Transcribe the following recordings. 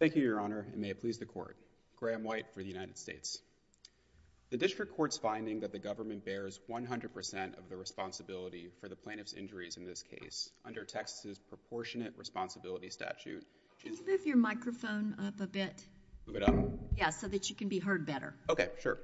Thank you, Your Honor, and may it please the Court, Graham White for the United States. The District Court's finding that the government bears 100% of the responsibility for the plaintiff's injuries in this case under Texas's Proportionate Responsibility Statute. Can you move your microphone up a bit? Yeah, so that you can be heard better. Okay, sure.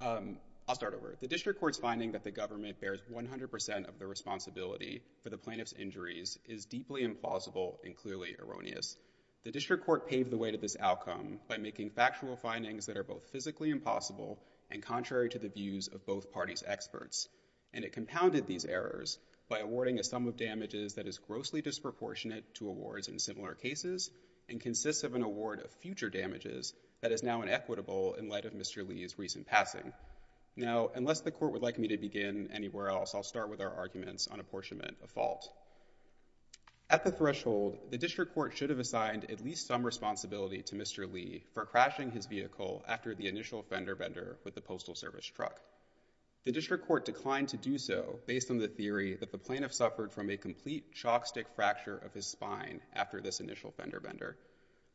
I'll start over. The District Court's finding that the government bears 100% of the responsibility for the plaintiff's injuries is deeply implausible and clearly erroneous. The District Court paved the way to this outcome by making factual findings that are both physically impossible and contrary to the views of both parties experts, and it compounded these errors by awarding a sum of damages that is grossly disproportionate to awards in similar cases and consists of an award of future damages that is now inequitable in light of Mr. Lee's recent passing. Now, unless the Court would like me to begin anywhere else, I'll start with our arguments on apportionment of fault. At the threshold, the District Court should have assigned at least some responsibility to Mr. Lee for crashing his vehicle after the initial fender bender with the Postal Service truck. The District Court declined to do so based on the theory that the plaintiff suffered from a complete chalkstick fracture of his spine after this initial fender bender.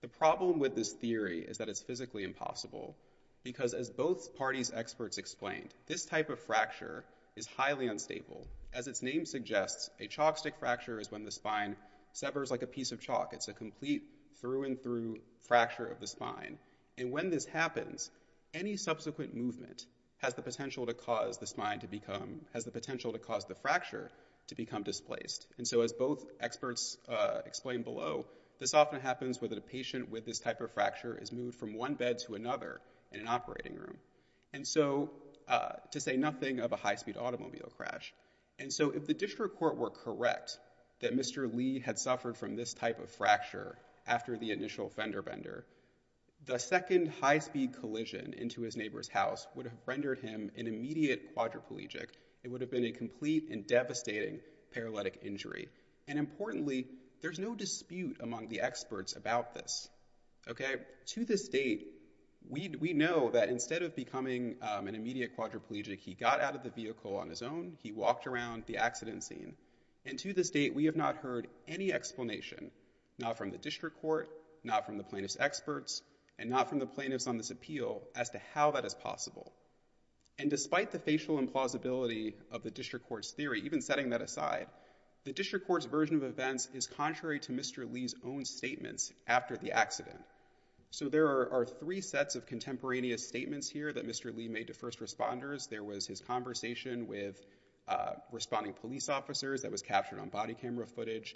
The problem with this theory is that it's physically impossible because as both parties experts explained, this type of fracture is highly unstable. As its name suggests, a chalkstick fracture is when the spine severs like a piece of chalk. It's a complete through-and-through fracture of the spine. And when this happens, any subsequent movement has the potential to cause the spine to become, has the potential to cause the fracture to become displaced. And so as both experts explained below, this often happens where the patient with this type of fracture is moved from one bed to another in an operating room. And so, to say nothing of a high-speed automobile crash. And so if the District Court were correct that Mr. Lee had suffered from this type of fracture after the initial fender bender, the second high-speed collision into his neighbor's house would have rendered him an immediate quadriplegic. It would have been a complete and devastating paralytic injury. And importantly, there's no dispute among the experts about this, okay? To this date, we know that instead of becoming an immediate quadriplegic, he got out of the vehicle on his own. He walked around the accident scene. And to this date, we have not heard any explanation, not from the District Court, not from the plaintiff's experts, and not from the plaintiffs on this appeal, as to how that is possible. And despite the facial implausibility of the District Court's theory, even setting that aside, the District Court's version of events is contrary to Mr. Lee's own statements after the accident. So there are three sets of contemporaneous statements here that Mr. Lee made to first responders. There was his conversation with responding police officers that was body camera footage.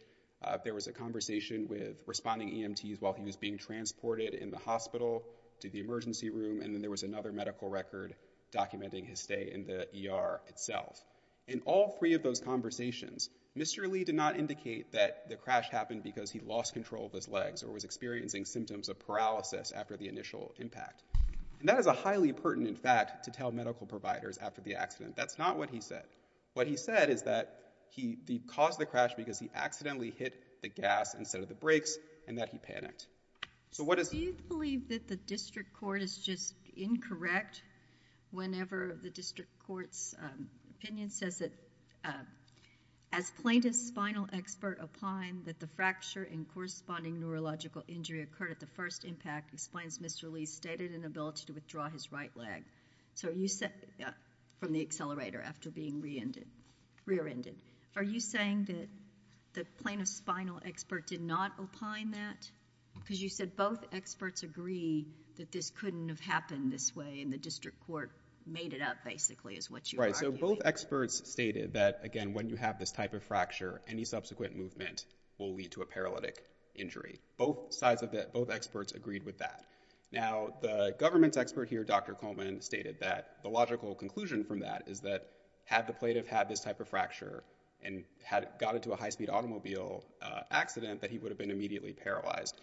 There was a conversation with responding EMTs while he was being transported in the hospital to the emergency room. And then there was another medical record documenting his stay in the ER itself. In all three of those conversations, Mr. Lee did not indicate that the crash happened because he lost control of his legs or was experiencing symptoms of paralysis after the initial impact. And that is a highly pertinent fact to tell medical providers after the accident. That's not what he said. What he said is that he caused the crash because he accidentally hit the gas instead of the brakes, and that he panicked. So what is... Do you believe that the District Court is just incorrect whenever the District Court's opinion says that as plaintiff's spinal expert opined that the fracture and corresponding neurological injury occurred at the first impact explains Mr. Lee's stated inability to withdraw his right leg. So you said from the accelerator after being re-ended, rear-ended. Are you saying that the plaintiff's spinal expert did not opine that? Because you said both experts agree that this couldn't have happened this way and the District Court made it up basically is what you are arguing. Right, so both experts stated that again when you have this type of fracture, any subsequent movement will lead to a paralytic injury. Both sides of that, both experts agreed with that. Now the government's expert here, Dr. Coleman, stated that the logical conclusion from that is that had the plaintiff had this type of fracture and had got into a high-speed automobile accident that he would have been immediately paralyzed.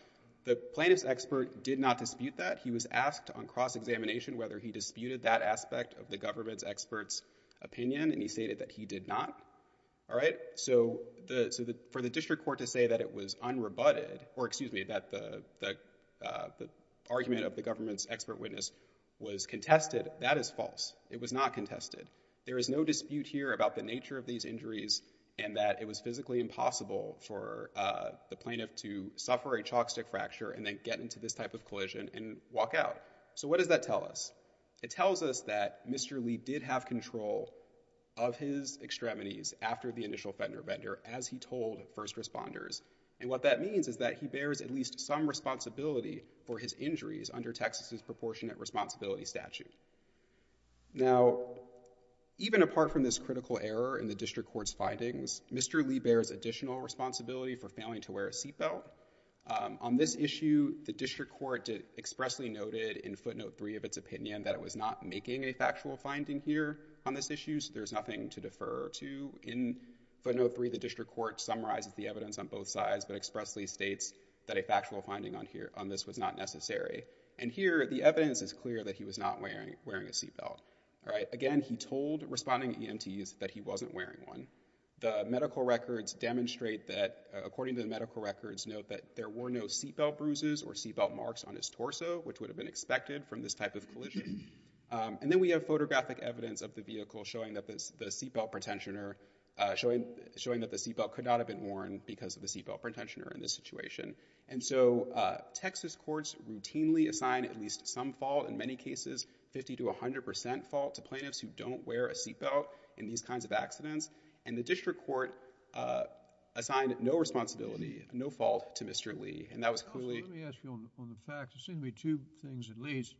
The plaintiff's expert did not dispute that. He was asked on cross-examination whether he disputed that aspect of the government's expert's opinion and he stated that he did not. All right, so for the District Court to say that it was unrebutted, or excuse me, that the argument of the government's expert witness was contested, that is false. It was not contested. There is no dispute here about the nature of these injuries and that it was physically impossible for the plaintiff to suffer a chalk stick fracture and then get into this type of collision and walk out. So what does that tell us? It tells us that Mr. Lee did have control of his extremities after the initial fender-bender as he told first responders and what that means is that he bears at least some responsibility for his injuries under Texas's proportionate responsibility statute. Now even apart from this critical error in the District Court's findings, Mr. Lee bears additional responsibility for failing to wear a seatbelt. On this issue, the District Court expressly noted in footnote 3 of its opinion that it was not making a factual finding here on this issue, so there's nothing to defer to. In footnote 3, the District Court summarizes the evidence on both sides but expressly states that a factual finding on here on this was not necessary and here the evidence is clear that he was not wearing a seatbelt. Again, he told responding EMTs that he wasn't wearing one. The medical records demonstrate that, according to the medical records, note that there were no seatbelt bruises or seatbelt marks on his torso, which would have been expected from this type of collision. And then we have photographic evidence of the vehicle showing that the seatbelt pretensioner, showing showing that the seatbelt could not have been worn because of the seatbelt pretensioner in this situation. And so Texas courts routinely assign at least some fault, in many cases 50 to 100 percent fault, to plaintiffs who don't wear a seatbelt in these kinds of accidents and the District Court assigned no responsibility, no fault to Mr. Lee and that was clearly... Let me ask you on the facts. There seem to be two things at least.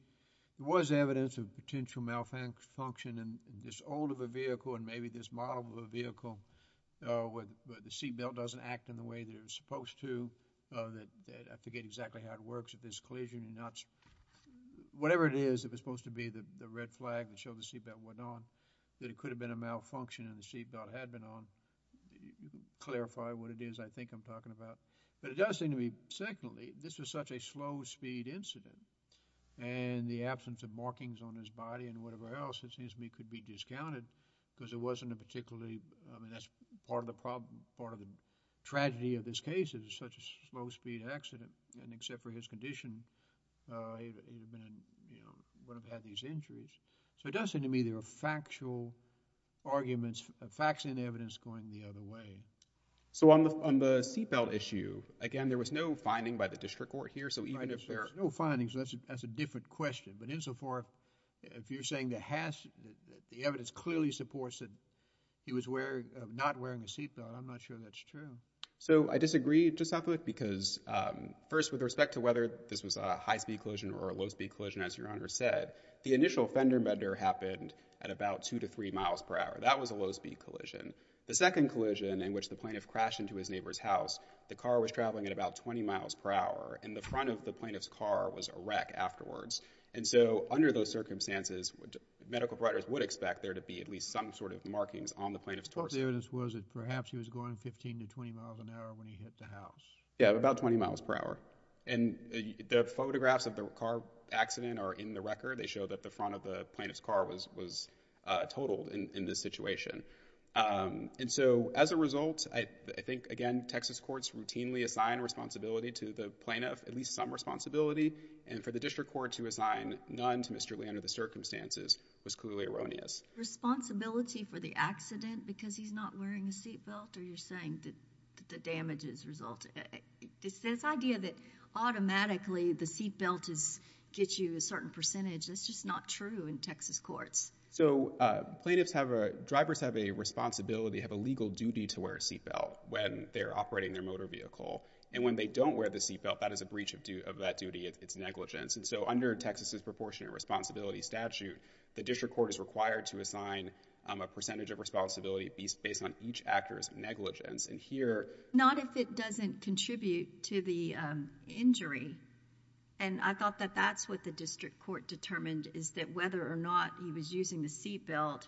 There was evidence of potential malfunction in this old of a vehicle and maybe this model of a vehicle, where the seatbelt doesn't act in the way that it was supposed to, that I forget exactly how it works, if there's collision or not. Whatever it is, if it's supposed to be the red flag that showed the seatbelt wasn't on, that it could have been a malfunction and the seatbelt had been on. Clarify what it is I think I'm talking about. But it does seem to me, secondly, this was such a slow speed incident and the absence of markings on his body and whatever else, it seems to me, could be discounted because it wasn't a particularly... I mean that's part of the problem, part of the tragedy of this case is such a slow speed accident and except for his condition, he would have had these injuries. So it does seem to me there are factual arguments, facts and evidence going the other way. So on the seatbelt issue, again there was no finding by the District Court here so even if there... No findings, that's a different question. But insofar, if you're saying that the evidence clearly supports that he was not wearing a seatbelt, I'm not sure that's true. So I disagree, Justice Affleck, because first with respect to whether this was a high-speed collision or a low-speed collision, as Your Honor said, the initial fender-bender happened at about two to three miles per hour. That was a low-speed collision. The second collision in which the plaintiff crashed into his neighbor's house, the car was traveling at about 20 miles per hour and the front of the plaintiff's car was a wreck afterwards. And so under those circumstances, medical providers would expect there to be at least some sort of markings on the plaintiff's torso. What the evidence was that perhaps he was going 15 to 20 miles an hour when he hit the house. Yeah, about 20 miles per hour. And the photographs of the car accident are in the record. They show that the front of the plaintiff's car was totaled in this situation. And so as a result, I think again Texas courts routinely assign responsibility to the plaintiff, at least some responsibility. And for the District Court to assign none to Mr. Lee under the circumstances was clearly erroneous. Responsibility for the accident because he's not wearing a seat belt? Or you're saying that the damage is resulting? This idea that automatically the seat belt gets you a certain percentage, that's just not true in Texas courts. So plaintiffs have a, drivers have a responsibility, have a legal duty to wear a seat belt when they're operating their motor vehicle. And when they don't wear the seat belt, that is a breach of that duty. It's negligence. And so under Texas's proportionate responsibility statute, the District Court is required to assign a percentage of responsibility based on each actor's negligence. And here... Not if it doesn't contribute to the injury. And I thought that that's what the District Court determined, is that whether or not he was using the seat belt,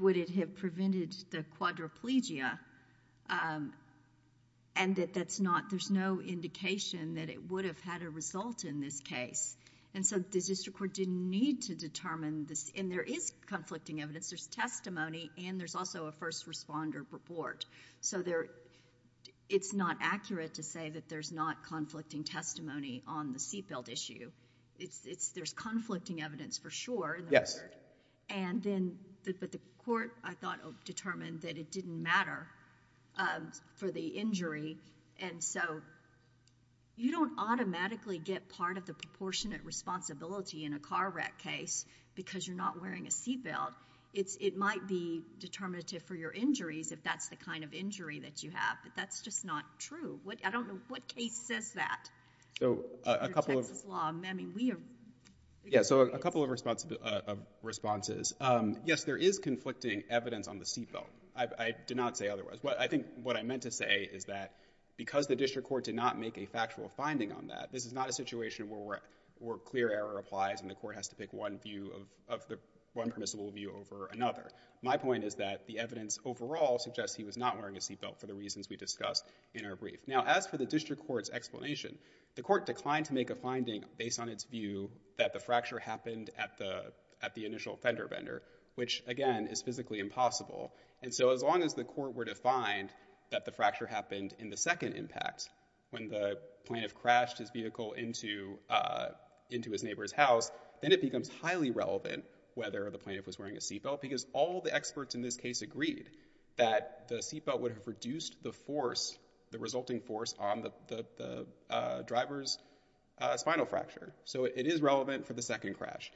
would it have prevented the quadriplegia? And that that's not, there's no indication that it would have had a result in this case. And so the District Court didn't need to determine this. And there is conflicting evidence, there's testimony, and there's also a first responder report. So there, it's not accurate to say that there's not conflicting testimony on the seat belt. There's conflicting evidence for sure. Yes. And then, but the court, I thought, determined that it didn't matter for the injury. And so you don't automatically get part of the proportionate responsibility in a car wreck case because you're not wearing a seat belt. It's, it might be determinative for your injuries if that's the kind of injury that you have. But that's just not true. What, I So a couple of responses. Yes, there is conflicting evidence on the seat belt. I did not say otherwise. But I think what I meant to say is that because the District Court did not make a factual finding on that, this is not a situation where clear error applies and the court has to pick one view of the, one permissible view over another. My point is that the evidence overall suggests he was not wearing a seat belt for the reasons we discussed in our brief. Now, as for the District Court's explanation, the court declined to make a finding based on its view that the fracture happened at the, at the initial fender bender, which, again, is physically impossible. And so as long as the court were to find that the fracture happened in the second impact, when the plaintiff crashed his vehicle into, into his neighbor's house, then it becomes highly relevant whether the plaintiff was wearing a seat belt because all the experts in this case agreed that the seat belt would have reduced the force, the resulting force on the, the driver's spinal fracture. So it is relevant for the second crash.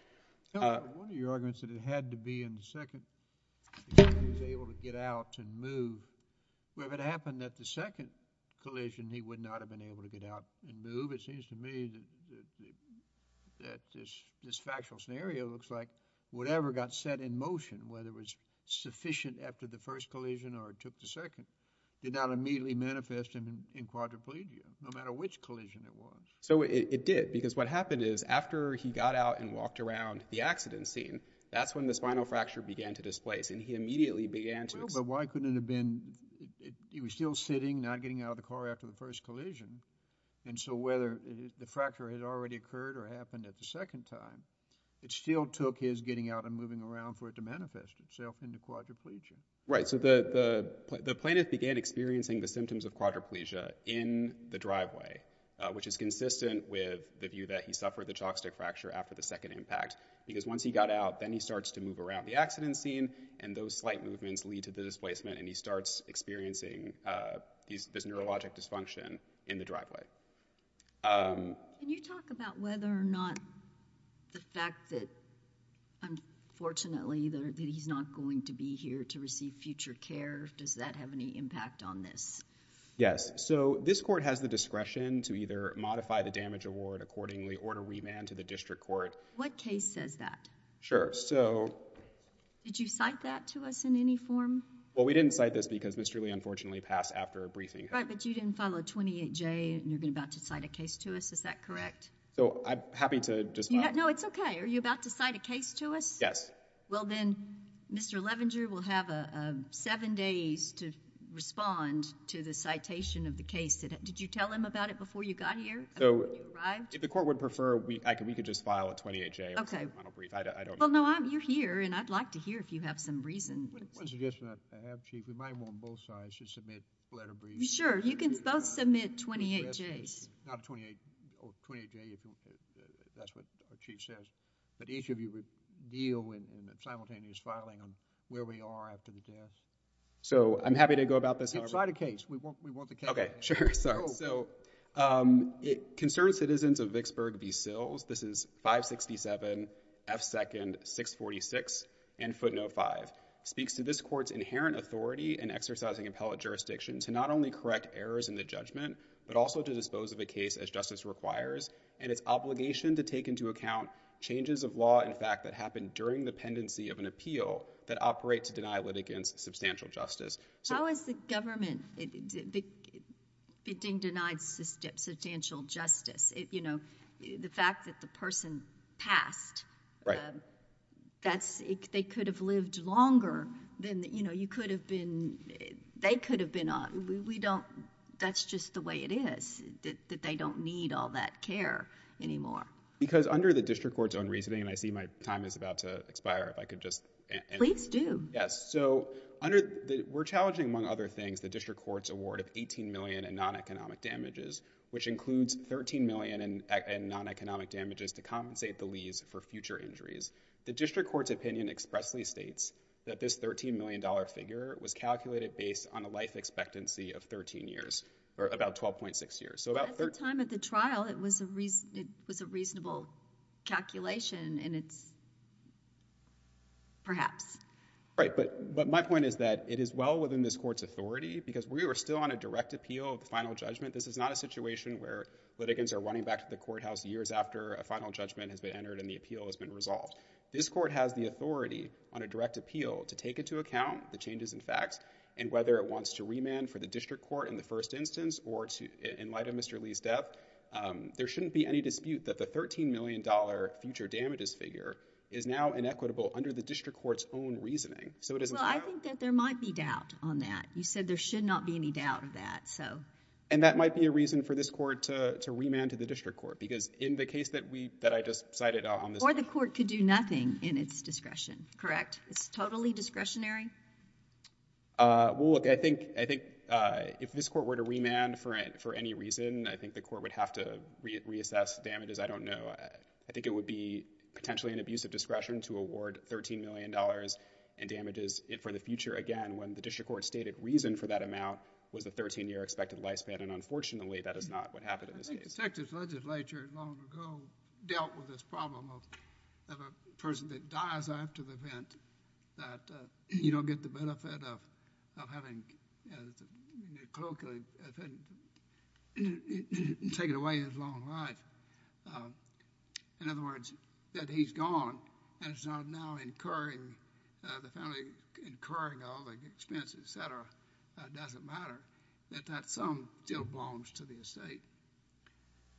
One of your arguments that it had to be in the second, that he was able to get out and move, well, if it happened at the second collision, he would not have been able to get out and move. It seems to me that this, this factual scenario looks like whatever got set in motion, whether it was sufficient after the first collision or took the second, did not immediately manifest in quadriplegia, no matter which collision it was. So it did because what happened is after he got out and walked around the accident scene, that's when the spinal fracture began to displace and he immediately began to... Well, but why couldn't it have been, he was still sitting, not getting out of the car after the first collision, and so whether the fracture had already occurred or happened at the second time, it still took his getting out and moving around for it to manifest itself into quadriplegia. Right, so the, the plaintiff began experiencing the symptoms of quadriplegia in the driveway, which is consistent with the view that he suffered the jockstick fracture after the second impact, because once he got out, then he starts to move around the accident scene and those slight movements lead to the displacement and he starts experiencing this neurologic dysfunction in the driveway. Can you talk about whether or not the fact that unfortunately that he's not going to be here to receive future care, does that have any impact on this? Yes, so this court has the discretion to either modify the damage award accordingly or to remand to the district court. What case says that? Sure, so... Did you cite that to us in any form? Well, we didn't cite this because Mr. Lee unfortunately passed after a briefing. Right, but you didn't file a 28J and you're about to cite a case to us, is that correct? So I'm happy to just... No, it's okay. Are you about to cite a case to us? Yes. Well, then Mr. Levenger will have seven days to respond to the citation of the case. Did you tell him about it before you got here? So, if the court would prefer, we could just file a 28J. Okay. Well, no, I'm, you're here and I'd like to hear if you have some reason. One suggestion I have, Chief, we might want both sides to submit letter briefs. Sure, you can both submit 28Js. Not a 28, or 28J, if that's what our Chief says, but each of you would deal in simultaneous filing on where we are after the death. So, I'm happy to go about this. Cite a case, we want the case. Okay, sure, sorry. So, it concerns citizens of Vicksburg v. Sills, this is 567 F. 2nd 646 and footnote 5, speaks to this court's inherent authority in exercising appellate jurisdiction to not only correct errors in the judgment, but also to dispose of a case as justice requires, and its obligation to take into account changes of law, in fact, that happened during the pendency of an appeal that operate to deny litigants substantial justice. How has the government been denied substantial justice? You know, the fact that the person passed. Right. That's, they could have lived longer than, you know, you could have been, they could have been, we don't, that's just the way it is, that they don't need all that care anymore. Because under the district court's own reasoning, and I see my time is about to expire, if I could just. Please do. Yes, so under, we're challenging, among other things, the district court's award of 18 million in non-economic damages, which includes 13 million in non-economic damages to compensate the liaise for future injuries, the district court's opinion expressly states that this 13 million dollar figure was calculated based on a life expectancy of 13 years, or about 12.6 years. So about the time at the trial, it was a reason, it was a reasonable calculation, and it's, perhaps. Right, but my point is that it is well within this court's authority, because we were still on a direct appeal of the final judgment. This is not a situation where litigants are running back to the courthouse years after a final judgment has been entered, and the appeal has been resolved. This court has the authority on a direct appeal to take into account the changes in facts, and whether it wants to remand for the district court in the first instance, or to, in light of Mr. Lee's death, there shouldn't be any dispute that the 13 million dollar future damages figure is now inequitable under the district court's own reasoning. So it isn't. Well, I think that there might be doubt on that. You said there should not be any doubt of that, so. And that might be a reason for this court to remand to the district court, because in the case that we, that I just cited on this. Or the court could do nothing in its discretion, correct? It's totally discretionary? Well, look, I think, I think if this court were to remand for any reason, I think the court would have to reassess damages, I don't know. I think it would be potentially an abuse of discretion to award 13 million dollars in damages for the future, again, when the district court stated reason for that amount was the 13 year expected lifespan, and unfortunately that is not what happened in this case. I think the Texas legislature long ago dealt with this problem of a person that dies after the event, that you don't get the benefit of having, colloquially, taken away his long life. In other words, that he's gone, and it's not now incurring, the family incurring all the expenses, et cetera, that doesn't matter. That that sum still belongs to the estate.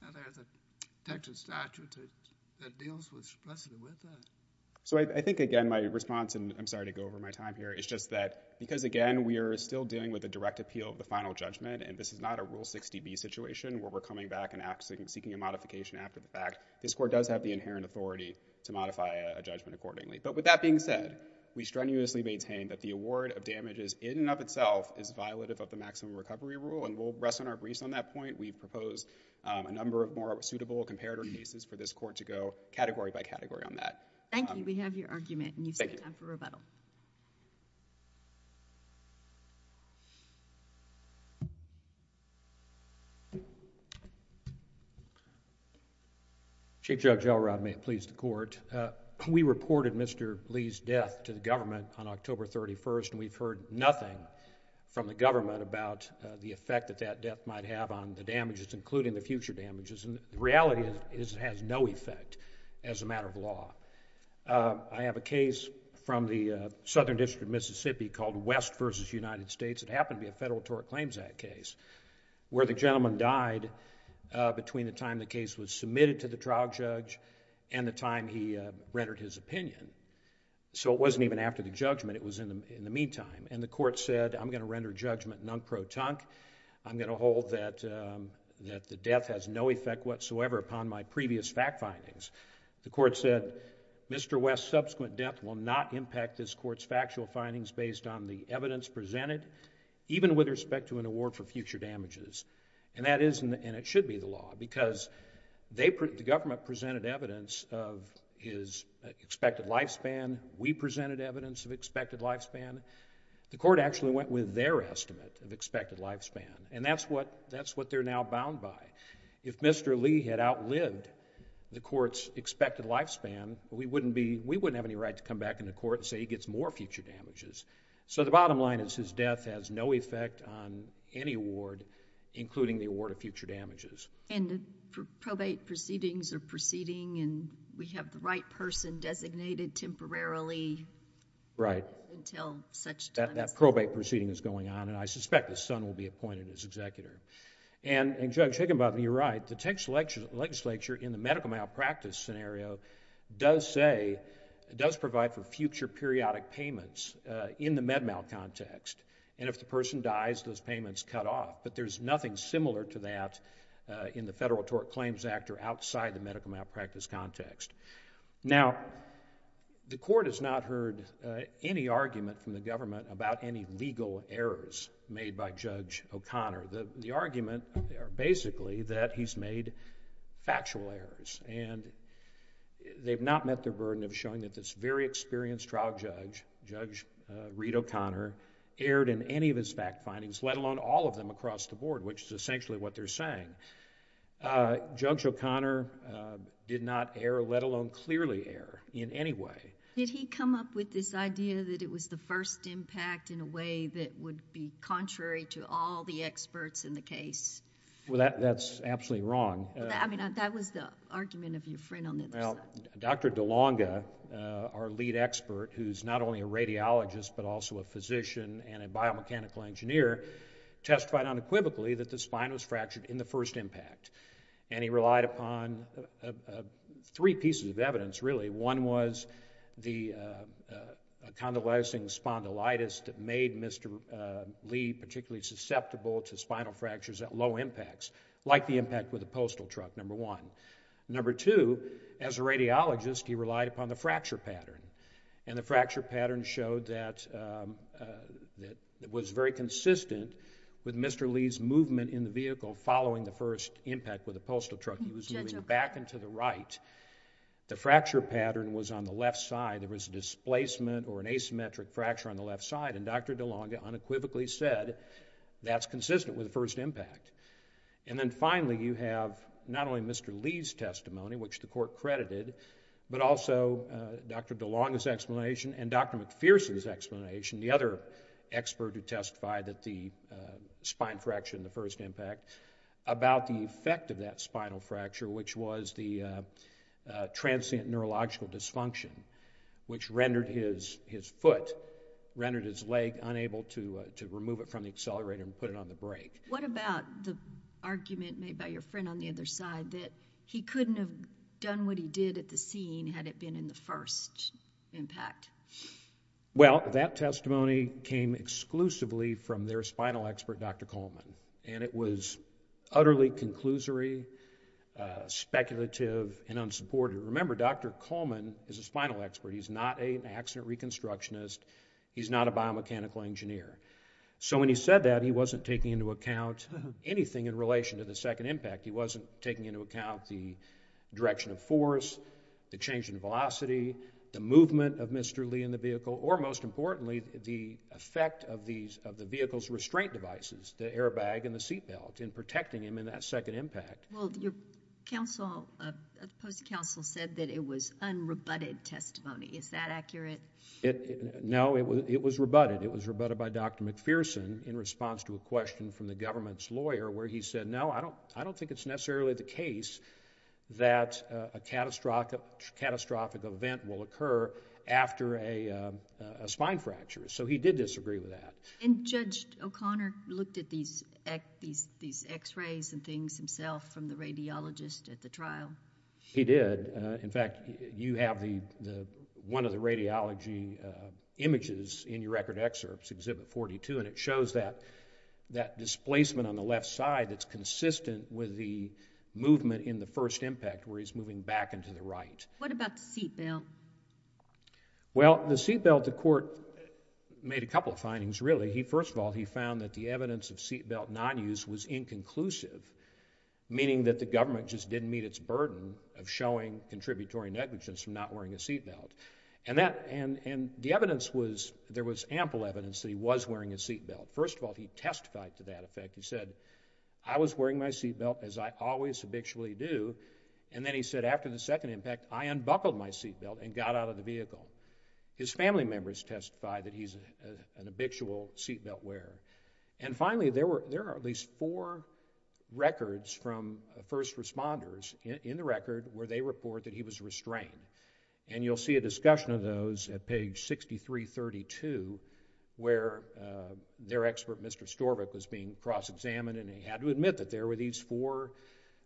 Now there's a Texas statute that deals with, specifically with that. So I think, again, my response, and I'm sorry to go over my time here, is just that, because, again, we are still dealing with a direct appeal of the final judgment, and this is not a Rule 60B situation where we're coming back and asking, seeking a modification after the fact, this court does have the inherent authority to modify a judgment accordingly. But with that being said, we strenuously maintain that the award of damages in and of itself is violative of the maximum recovery rule, and we'll rest on our briefs on that point. We've proposed a number of more suitable comparator cases for this court to go category by category on that. Thank you. We have your argument, and you still have time for rebuttal. Chief Judge Elrod, may it please the Court. We reported Mr. Lee's death to the government on October 31st, and we've heard nothing from the government about the effect that that death might have on the damages, including the future damages, and the reality is it has no effect as a matter of law. I have a case from the Southern District of Mississippi called West v. United States. It happened to be a Federal Tort Claims Act case where the gentleman died between the time the case was submitted to the trial judge and the time he rendered his opinion. So it wasn't even after the judgment, it was in the meantime, and the court said, I'm going to render judgment non-protonque. I'm going to hold that the death has no effect whatsoever upon my previous fact findings. The court said, Mr. West's subsequent death will not impact this court's factual findings based on the evidence presented, even with respect to an award for future damages. And that is, and it should be the law, because the government presented evidence of his expected lifespan. We presented evidence of expected lifespan. The court actually went with their estimate of expected lifespan, and that's what they're now bound by. If Mr. Lee had outlived the court's expected lifespan, we wouldn't have any right to come back in the court and say he gets more future damages. So the bottom line is his death has no effect on any award, including the award of future damages. And the probate proceedings are proceeding, and we have the right person designated temporarily until such time as... That probate proceeding is going on, and I suspect his son will be appointed as executor. And Judge Higginbottom, you're right. The Texas legislature, in the medical malpractice scenario, does say, does provide for future periodic payments in the med mal context. And if the person dies, those payments cut off. But there's nothing similar to that in the Federal Tort Claims Act or outside the medical malpractice context. Now, the court has not heard any argument from the government about any legal errors made by Judge O'Connor. The argument are basically that he's made factual errors, and they've not met their burden of showing that this very experienced trial judge, Judge Reed O'Connor, erred in any of his fact findings, let alone all of them across the board, which is essentially what they're saying. Judge O'Connor did not err, let alone clearly err in any way. Did he come up with this idea that it was the first impact in a way that would be contrary to all the experts in the case? Well, that's absolutely wrong. I mean, that was the argument of your friend on the other side. Dr. DeLonga, our lead expert, who's not only a radiologist but also a physician and a biomechanical engineer, testified unequivocally that the spine was fractured in the first impact. And he relied upon three pieces of evidence, really. One was the condolizing spondylitis that made Mr. Lee particularly susceptible to spinal fractures at low impacts, like the impact with the postal As a radiologist, he relied upon the fracture pattern. And the fracture pattern showed that it was very consistent with Mr. Lee's movement in the vehicle following the first impact with the postal truck. He was moving back and to the right. The fracture pattern was on the left side. There was a displacement or an asymmetric fracture on the left side. And Dr. DeLonga unequivocally said that's consistent with the first impact. And then finally, you have not only Mr. Lee's testimony, which the court credited, but also Dr. DeLonga's explanation and Dr. McPherson's explanation, the other expert who testified that the spine fracture in the first impact, about the effect of that spinal fracture, which was the transient neurological dysfunction, which rendered his foot, rendered his leg unable to remove it from the accelerator and put it on the brake. What about the argument made by your friend on the other side that he couldn't have done what he did at the scene had it been in the first impact? Well, that testimony came exclusively from their spinal expert, Dr. Coleman. And it was utterly conclusory, speculative, and unsupported. Remember, Dr. Coleman is a spinal expert. He's not an accident reconstructionist. He's not a biomechanical engineer. So when he said that, he wasn't taking into account anything in relation to the second impact. He wasn't taking into account the direction of force, the change in velocity, the movement of Mr. Lee in the vehicle, or most importantly, the effect of these, of the vehicle's restraint devices, the airbag and the seatbelt, in protecting him in that second impact. Well, your counsel, post-counsel said that it was unrebutted testimony. Is that accurate? No, it was rebutted. It was rebutted by Dr. McPherson in response to a question from the government's lawyer where he said, no, I don't think it's necessarily the case that a catastrophic event will occur after a spine fracture. So he did disagree with that. And Judge O'Connor looked at these x-rays and things himself from the radiologist at the trial? He did. In fact, you have the, one of the radiology images in your record excerpts, Exhibit 42, and it shows that, that displacement on the left side that's consistent with the movement in the first impact where he's moving back into the right. What about the seatbelt? Well, the seatbelt, the court made a couple of findings, really. First of all, he found that the evidence of seatbelt non-use was inconclusive, meaning that the government just didn't meet its burden of showing contributory negligence from not wearing a seatbelt. And that, and the evidence was, there was ample evidence that he was wearing a seatbelt. First of all, he testified to that effect. He said, I was wearing my seatbelt as I always habitually do. And then he said, after the second impact, I unbuckled my seatbelt and got out of the vehicle. His family members testify that he's an habitual seatbelt wearer. And finally, there were, there are at least four records from first responders in the record where they report that he was restrained. And you'll see a discussion of those at page 6332 where their expert, Mr. Storvik, was being cross-examined and he had to admit that there were these four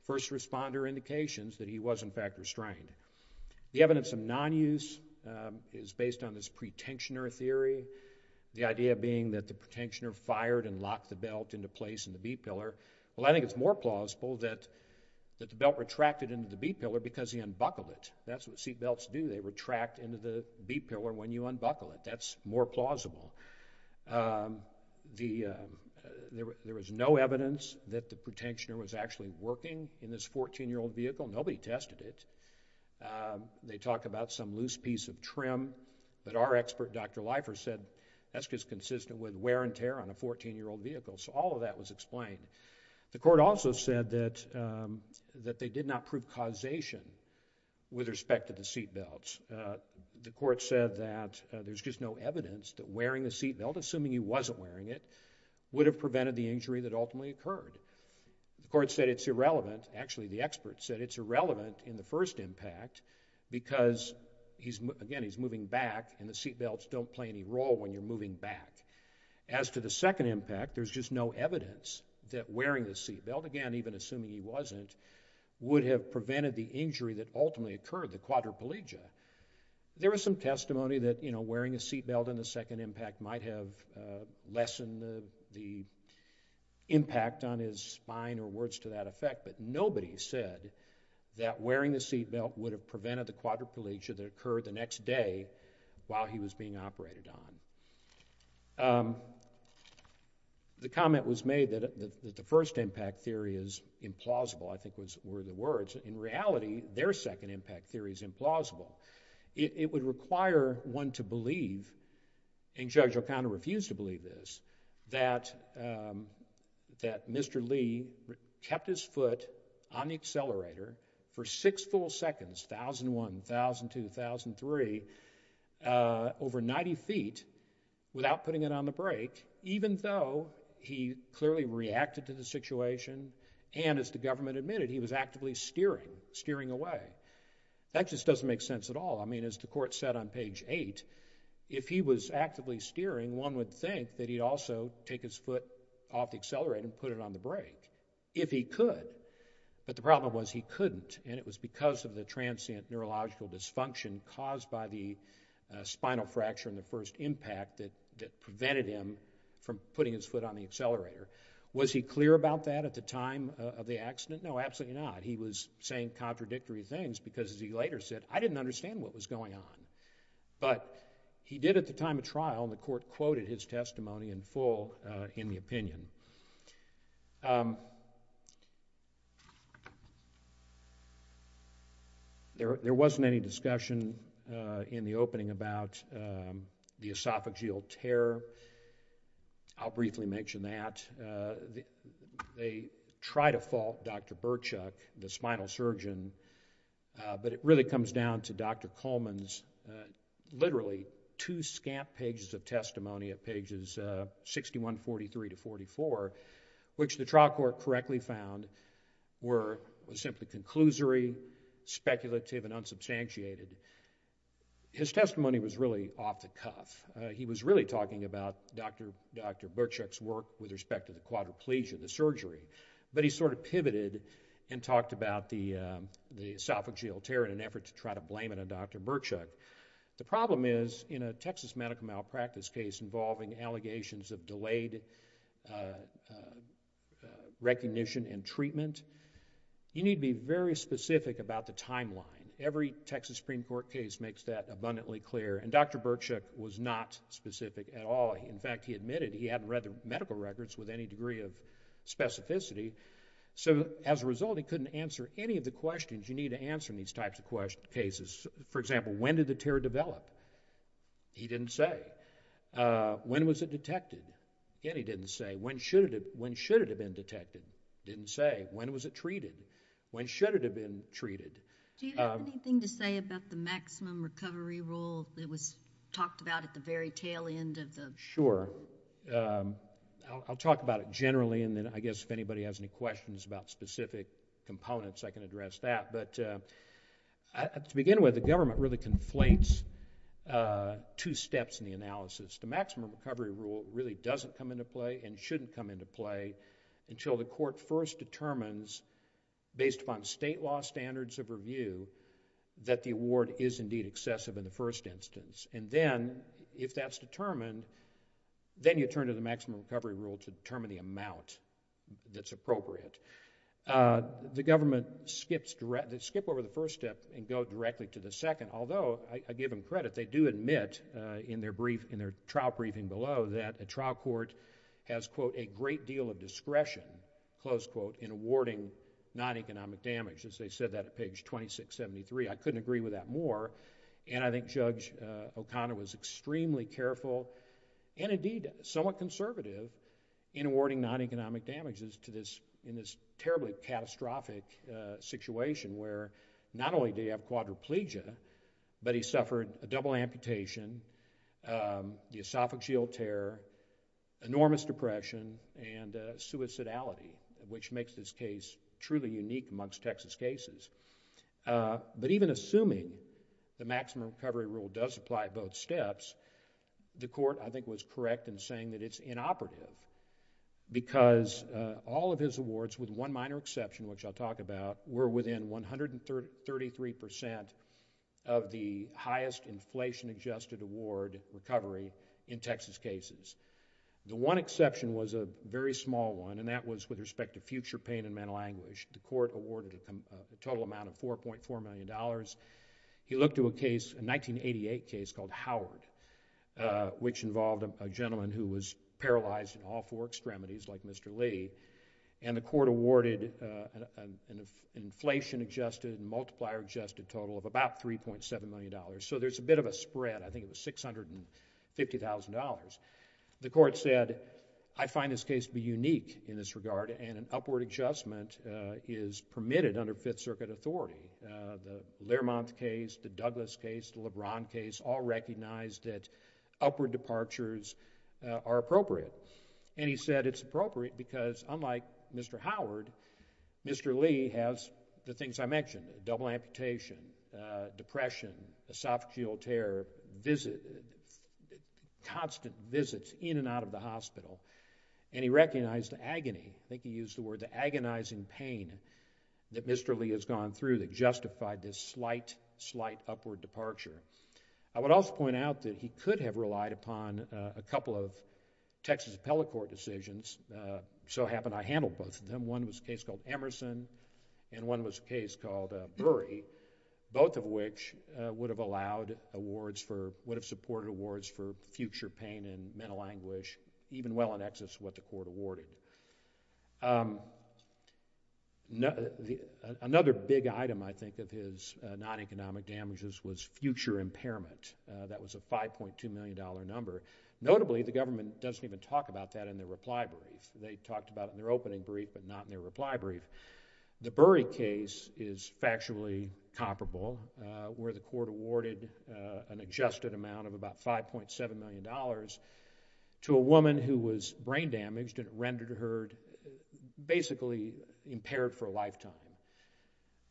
first responder indications that he was in fact restrained. The evidence of non-use is based on this pretensioner theory. The idea being that the pretensioner fired and locked the belt into place in the B-pillar. Well, I think it's more plausible that, that the belt retracted into the B-pillar because he unbuckled it. That's what seatbelts do. They retract into the B-pillar when you unbuckle it. That's more plausible. The, there was no evidence that the pretensioner was actually working in this 14-year-old vehicle. Nobody tested it. They talk about some loose piece of trim, but our expert, Dr. Leifer, said that's just consistent with wear and tear on a 14-year-old vehicle. So all of that was explained. The court also said that, that they did not prove causation with respect to the seatbelts. The court said that there's just no evidence that wearing a seatbelt, assuming he wasn't wearing it, would have prevented the injury that ultimately occurred. The court said it's irrelevant. Actually, the expert said it's irrelevant in the first impact because he's, again, he's moving back and the seatbelts don't play any role when you're moving back. As for the second impact, there's just no evidence that wearing the seatbelt, again, even assuming he wasn't, would have prevented the injury that ultimately occurred, the quadriplegia. There was some testimony that, you know, wearing a seatbelt in the second impact might have lessened the, the impact on his spine or words to that effect, but nobody said that wearing the seatbelt would have prevented the quadriplegia that occurred the next day while he was being operated on. The comment was made that, that the first impact theory is implausible, I think was, were the words. In reality, their second impact theory is implausible. It, it would require one to believe, and Judge O'Connor refused to believe this, that, that Mr. Lee kept his foot on the accelerator for six full seconds, 1,001, 1,002, 1,003, over 90 feet without putting it on the brake, even though he clearly reacted to the situation and, as the government admitted, he was actively steering, steering away. That just doesn't make sense at all. I mean, as the court said on page eight, if he was actively steering, one would think that he'd also take his foot off the accelerator and put it on the brake, if he could, but the problem was he couldn't, and it was because of the transient neurological dysfunction caused by the spinal fracture in the first impact that, that prevented him from putting his foot on the accelerator. Was he clear about that at the time of the accident? No, absolutely not. He was saying contradictory things because, as he later said, I didn't understand what was going on, but he did at the time of trial, and the court quoted his testimony in full in the opinion. There wasn't any discussion in the opening about the esophageal tear. I'll briefly mention that. They tried to fault Dr. Birchuk, the spinal surgeon, but it really comes down to Dr. Coleman's, literally, two scant pages of testimony at pages 61, 43 to 44, which the trial court correctly found were simply conclusory, speculative and unsubstantiated. His testimony was really off the cuff. He was really talking about Dr. Birchuk's work with respect to the quadriplegia, the surgery, but he sort of pivoted and talked about the esophageal tear in an effort to try to blame it on Dr. Birchuk. The problem is, in a Texas medical malpractice case involving allegations of delayed recognition and treatment, you need to be very specific about the timeline. Every Texas Supreme Court case makes that abundantly clear, and Dr. Birchuk was not specific at all. In fact, he admitted he hadn't read the medical records with any degree of specificity, so as a result, he couldn't answer any of the questions you need to answer in these types of cases. For example, when did the tear develop? He didn't say. When was it detected? Again, he didn't say. When should it have been detected? Didn't say. When was it treated? When should it have been treated? Do you have anything to say about the maximum recovery rule that was talked about at the very tail end of the... Sure. I'll talk about it generally, and then I guess if anybody has any questions about specific components, I can address that, but to begin with, the government really conflates two steps in the analysis. The maximum recovery rule really doesn't come into play and shouldn't come into play until the court first determines, based upon state law standards of review, that the award is indeed excessive in the first instance, and then, if that's determined, then you turn to the maximum recovery rule to determine the amount that's appropriate. The government skips over the first step and go directly to the second, although, I give them credit, they do admit in their trial briefing below that a trial court has, quote, a great deal of discretion, close quote, in awarding non-economic damage, as they said that at page 2673. I couldn't agree with that more, and I think Judge O'Connor was extremely careful and indeed somewhat conservative in awarding non-economic damages to this... in this terribly catastrophic situation where not only do you have quadriplegia, but he suffered a double amputation, the esophageal tear, enormous depression, and suicidality, which makes this case truly unique amongst Texas cases. But even assuming the maximum recovery rule does apply at both steps, the court, I think, was correct in saying that it's inoperative, because all of his awards, with one minor exception, which I'll talk about, were within 133% of the highest inflation adjusted award recovery in Texas cases. The one exception was a very small one, and that was with respect to future pain and mental anguish. The court awarded a total amount of $4.4 million. He looked to a case, a 1988 case called Howard, which involved a gentleman who was paralyzed in all four extremities like Mr. Lee, and the court awarded an inflation adjusted, multiplier adjusted total of about $3.7 million. So there's a bit of a spread. I think it was $650,000. The court said, I find this case to be unique in this regard, and an upward adjustment is permitted under Fifth Circuit authority. The Lermont case, the Douglas case, the LeBron case, all recognized that upward departures are appropriate. And he said it's appropriate because, unlike Mr. Howard, Mr. Lee has the things I mentioned, double amputation, depression, esophageal tear, visit, constant visits in and out of the hospital, and he recognized the agony. I recognize the agonizing pain that Mr. Lee has gone through that justified this slight, slight upward departure. I would also point out that he could have relied upon a couple of Texas appellate court decisions. So happened I handled both of them. One was a case called Emerson, and one was a case called Burry, both of which would have allowed awards for, would have supported awards for future pain and mental anguish, even well in excess of what the court awarded. Another big item, I think, of his non-economic damages was future impairment. That was a $5.2 million number. Notably, the government doesn't even talk about that in their reply brief. They talked about it in their opening brief, but not in their reply brief. The Burry case is factually comparable, where the court awarded an adjusted amount of about $5.7 million to a woman who was brain damaged, and it rendered her basically impaired for a lifetime.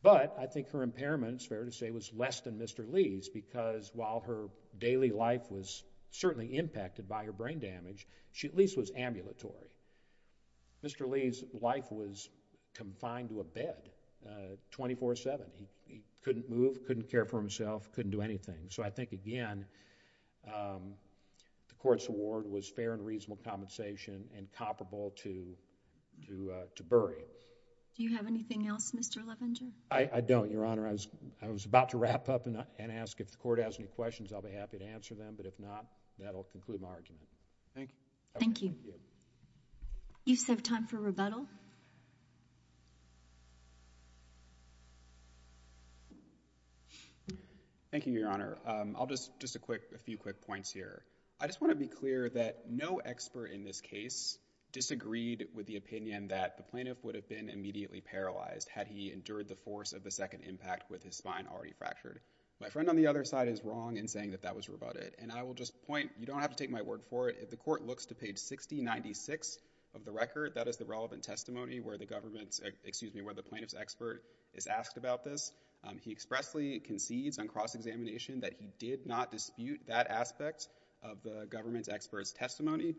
But I think her impairment, it's fair to say, was less than Mr. Lee's, because while her daily life was certainly impacted by her brain damage, she at least was ambulatory. Mr. Lee's life was confined to a bed 24-7. He couldn't move, couldn't care for himself, couldn't do anything. So I think, again, the court's award was fair and reasonable compensation and comparable to Burry's. Do you have anything else, Mr. Levenger? I don't, Your Honor. I was about to wrap up and ask if the court has any questions. I'll be happy to answer them, but if not, that'll conclude my argument. Thank you. Thank you. You just have time for rebuttal. Thank you, Your Honor. I'll just, just a quick, a few quick points here. I just want to be clear that no expert in this case disagreed with the opinion that the plaintiff would have been immediately paralyzed had he endured the force of the second impact with his spine already fractured. My friend on the other side is wrong in saying that that was rebutted, and I will just point, you don't have to take my word for it. If the court looks to page 6096 of the record, that is the relevant testimony where the government's, excuse me, where the plaintiff's expert is asked about this. He expressly concedes on cross examination that he did not dispute that aspect of the government's expert's testimony,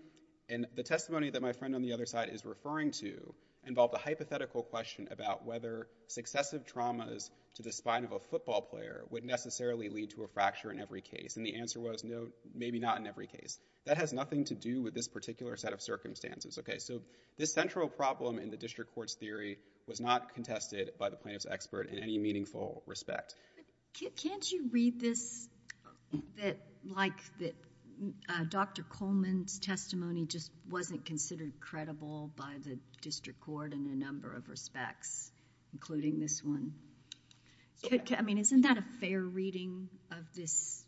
and the testimony that my friend on the other side is referring to involved a hypothetical question about whether successive traumas to the spine of a football player would necessarily lead to a fracture in every case, and the answer was no, maybe not in every case. That has nothing to do with this particular set of circumstances. Okay, so this central problem in the district court's theory was not contested by the plaintiff's expert in any meaningful respect. Can't you read this that, like, that Dr. Coleman's testimony just wasn't considered credible by the district court in a number of respects, including this one? I mean, isn't that a fair reading of this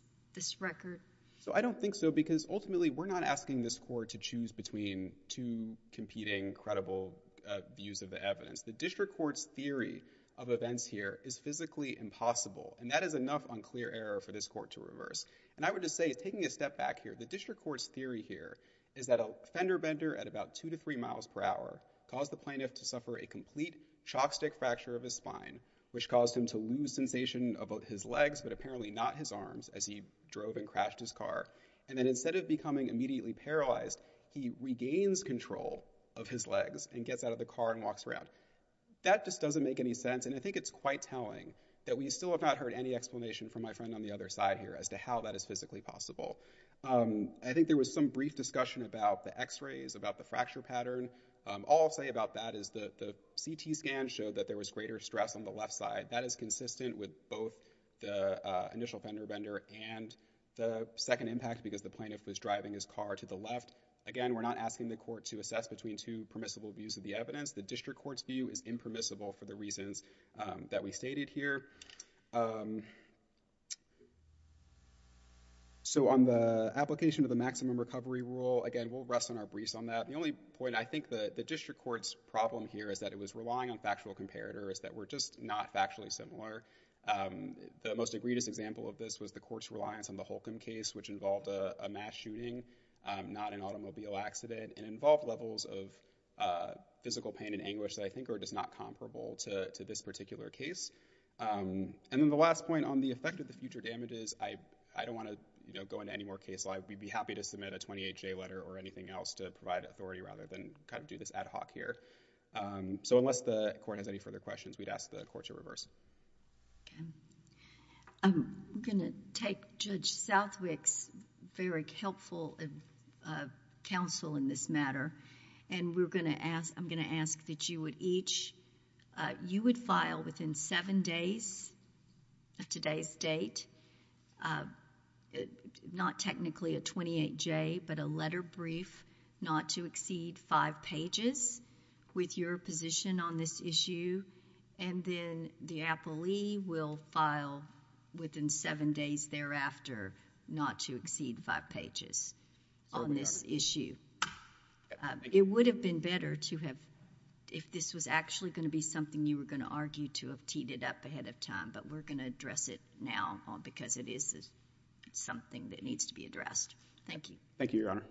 record? So I don't think so, because ultimately we're not asking this court to choose between two competing credible views of the evidence. The district court's theory of events here is physically impossible, and that is enough unclear error for this court to reverse, and I would just say, taking a step back here, the district court's theory here is that a fender bender at about two to three miles per hour caused the plaintiff to suffer a complete shock stick fracture of his spine, which caused him to lose sensation of his legs, but apparently not his arms, as he drove and crashed his car, and then instead of becoming immediately paralyzed, he regains control of his legs and gets out of the car and walks around. That just doesn't make any sense, and I think it's quite telling that we still have not heard any explanation from my friend on the other side here as to how that is physically possible. I think there was some brief discussion about the x-rays, about the fracture pattern. All I'll say about that is that the CT scan showed that there was greater stress on the left side. That is consistent with both the initial fender bender and the second impact, because the plaintiff was driving his car to the left. Again, we're not asking the court to assess between two permissible views of the evidence. The district court's view is impermissible for the reasons that we stated here. So on the application of the maximum recovery rule, again, we'll rest on our briefs on that. The only point I think the district court's problem here is that it was relying on factual comparators that were just not factually similar. The most egregious example of this was the court's reliance on the Holcomb case, which involved a mass shooting, not an automobile accident, and involved levels of physical pain and anguish that I think are just not comparable to this particular case. And then the last point on the effect of the future damages, I don't want to go into any more case law. We'd be happy to submit a 28-J letter or anything else to provide authority rather than kind of do this ad hoc here. So unless the court has any further questions, we'd ask the court to reverse. Okay. I'm going to take Judge Southwick's very helpful counsel in this matter, and I'm going to ask that you would each... you would file within seven days of today's date, not technically a 28-J, but a letter brief not to exceed five pages with your position on this issue, and then the appellee will file within seven days thereafter not to exceed five pages on this issue. It would have been better to have... if this was actually going to be something you were going to argue to have teed it up ahead of time, but we're going to address it now because it is something that needs to be addressed. Thank you. Thank you, Your Honor.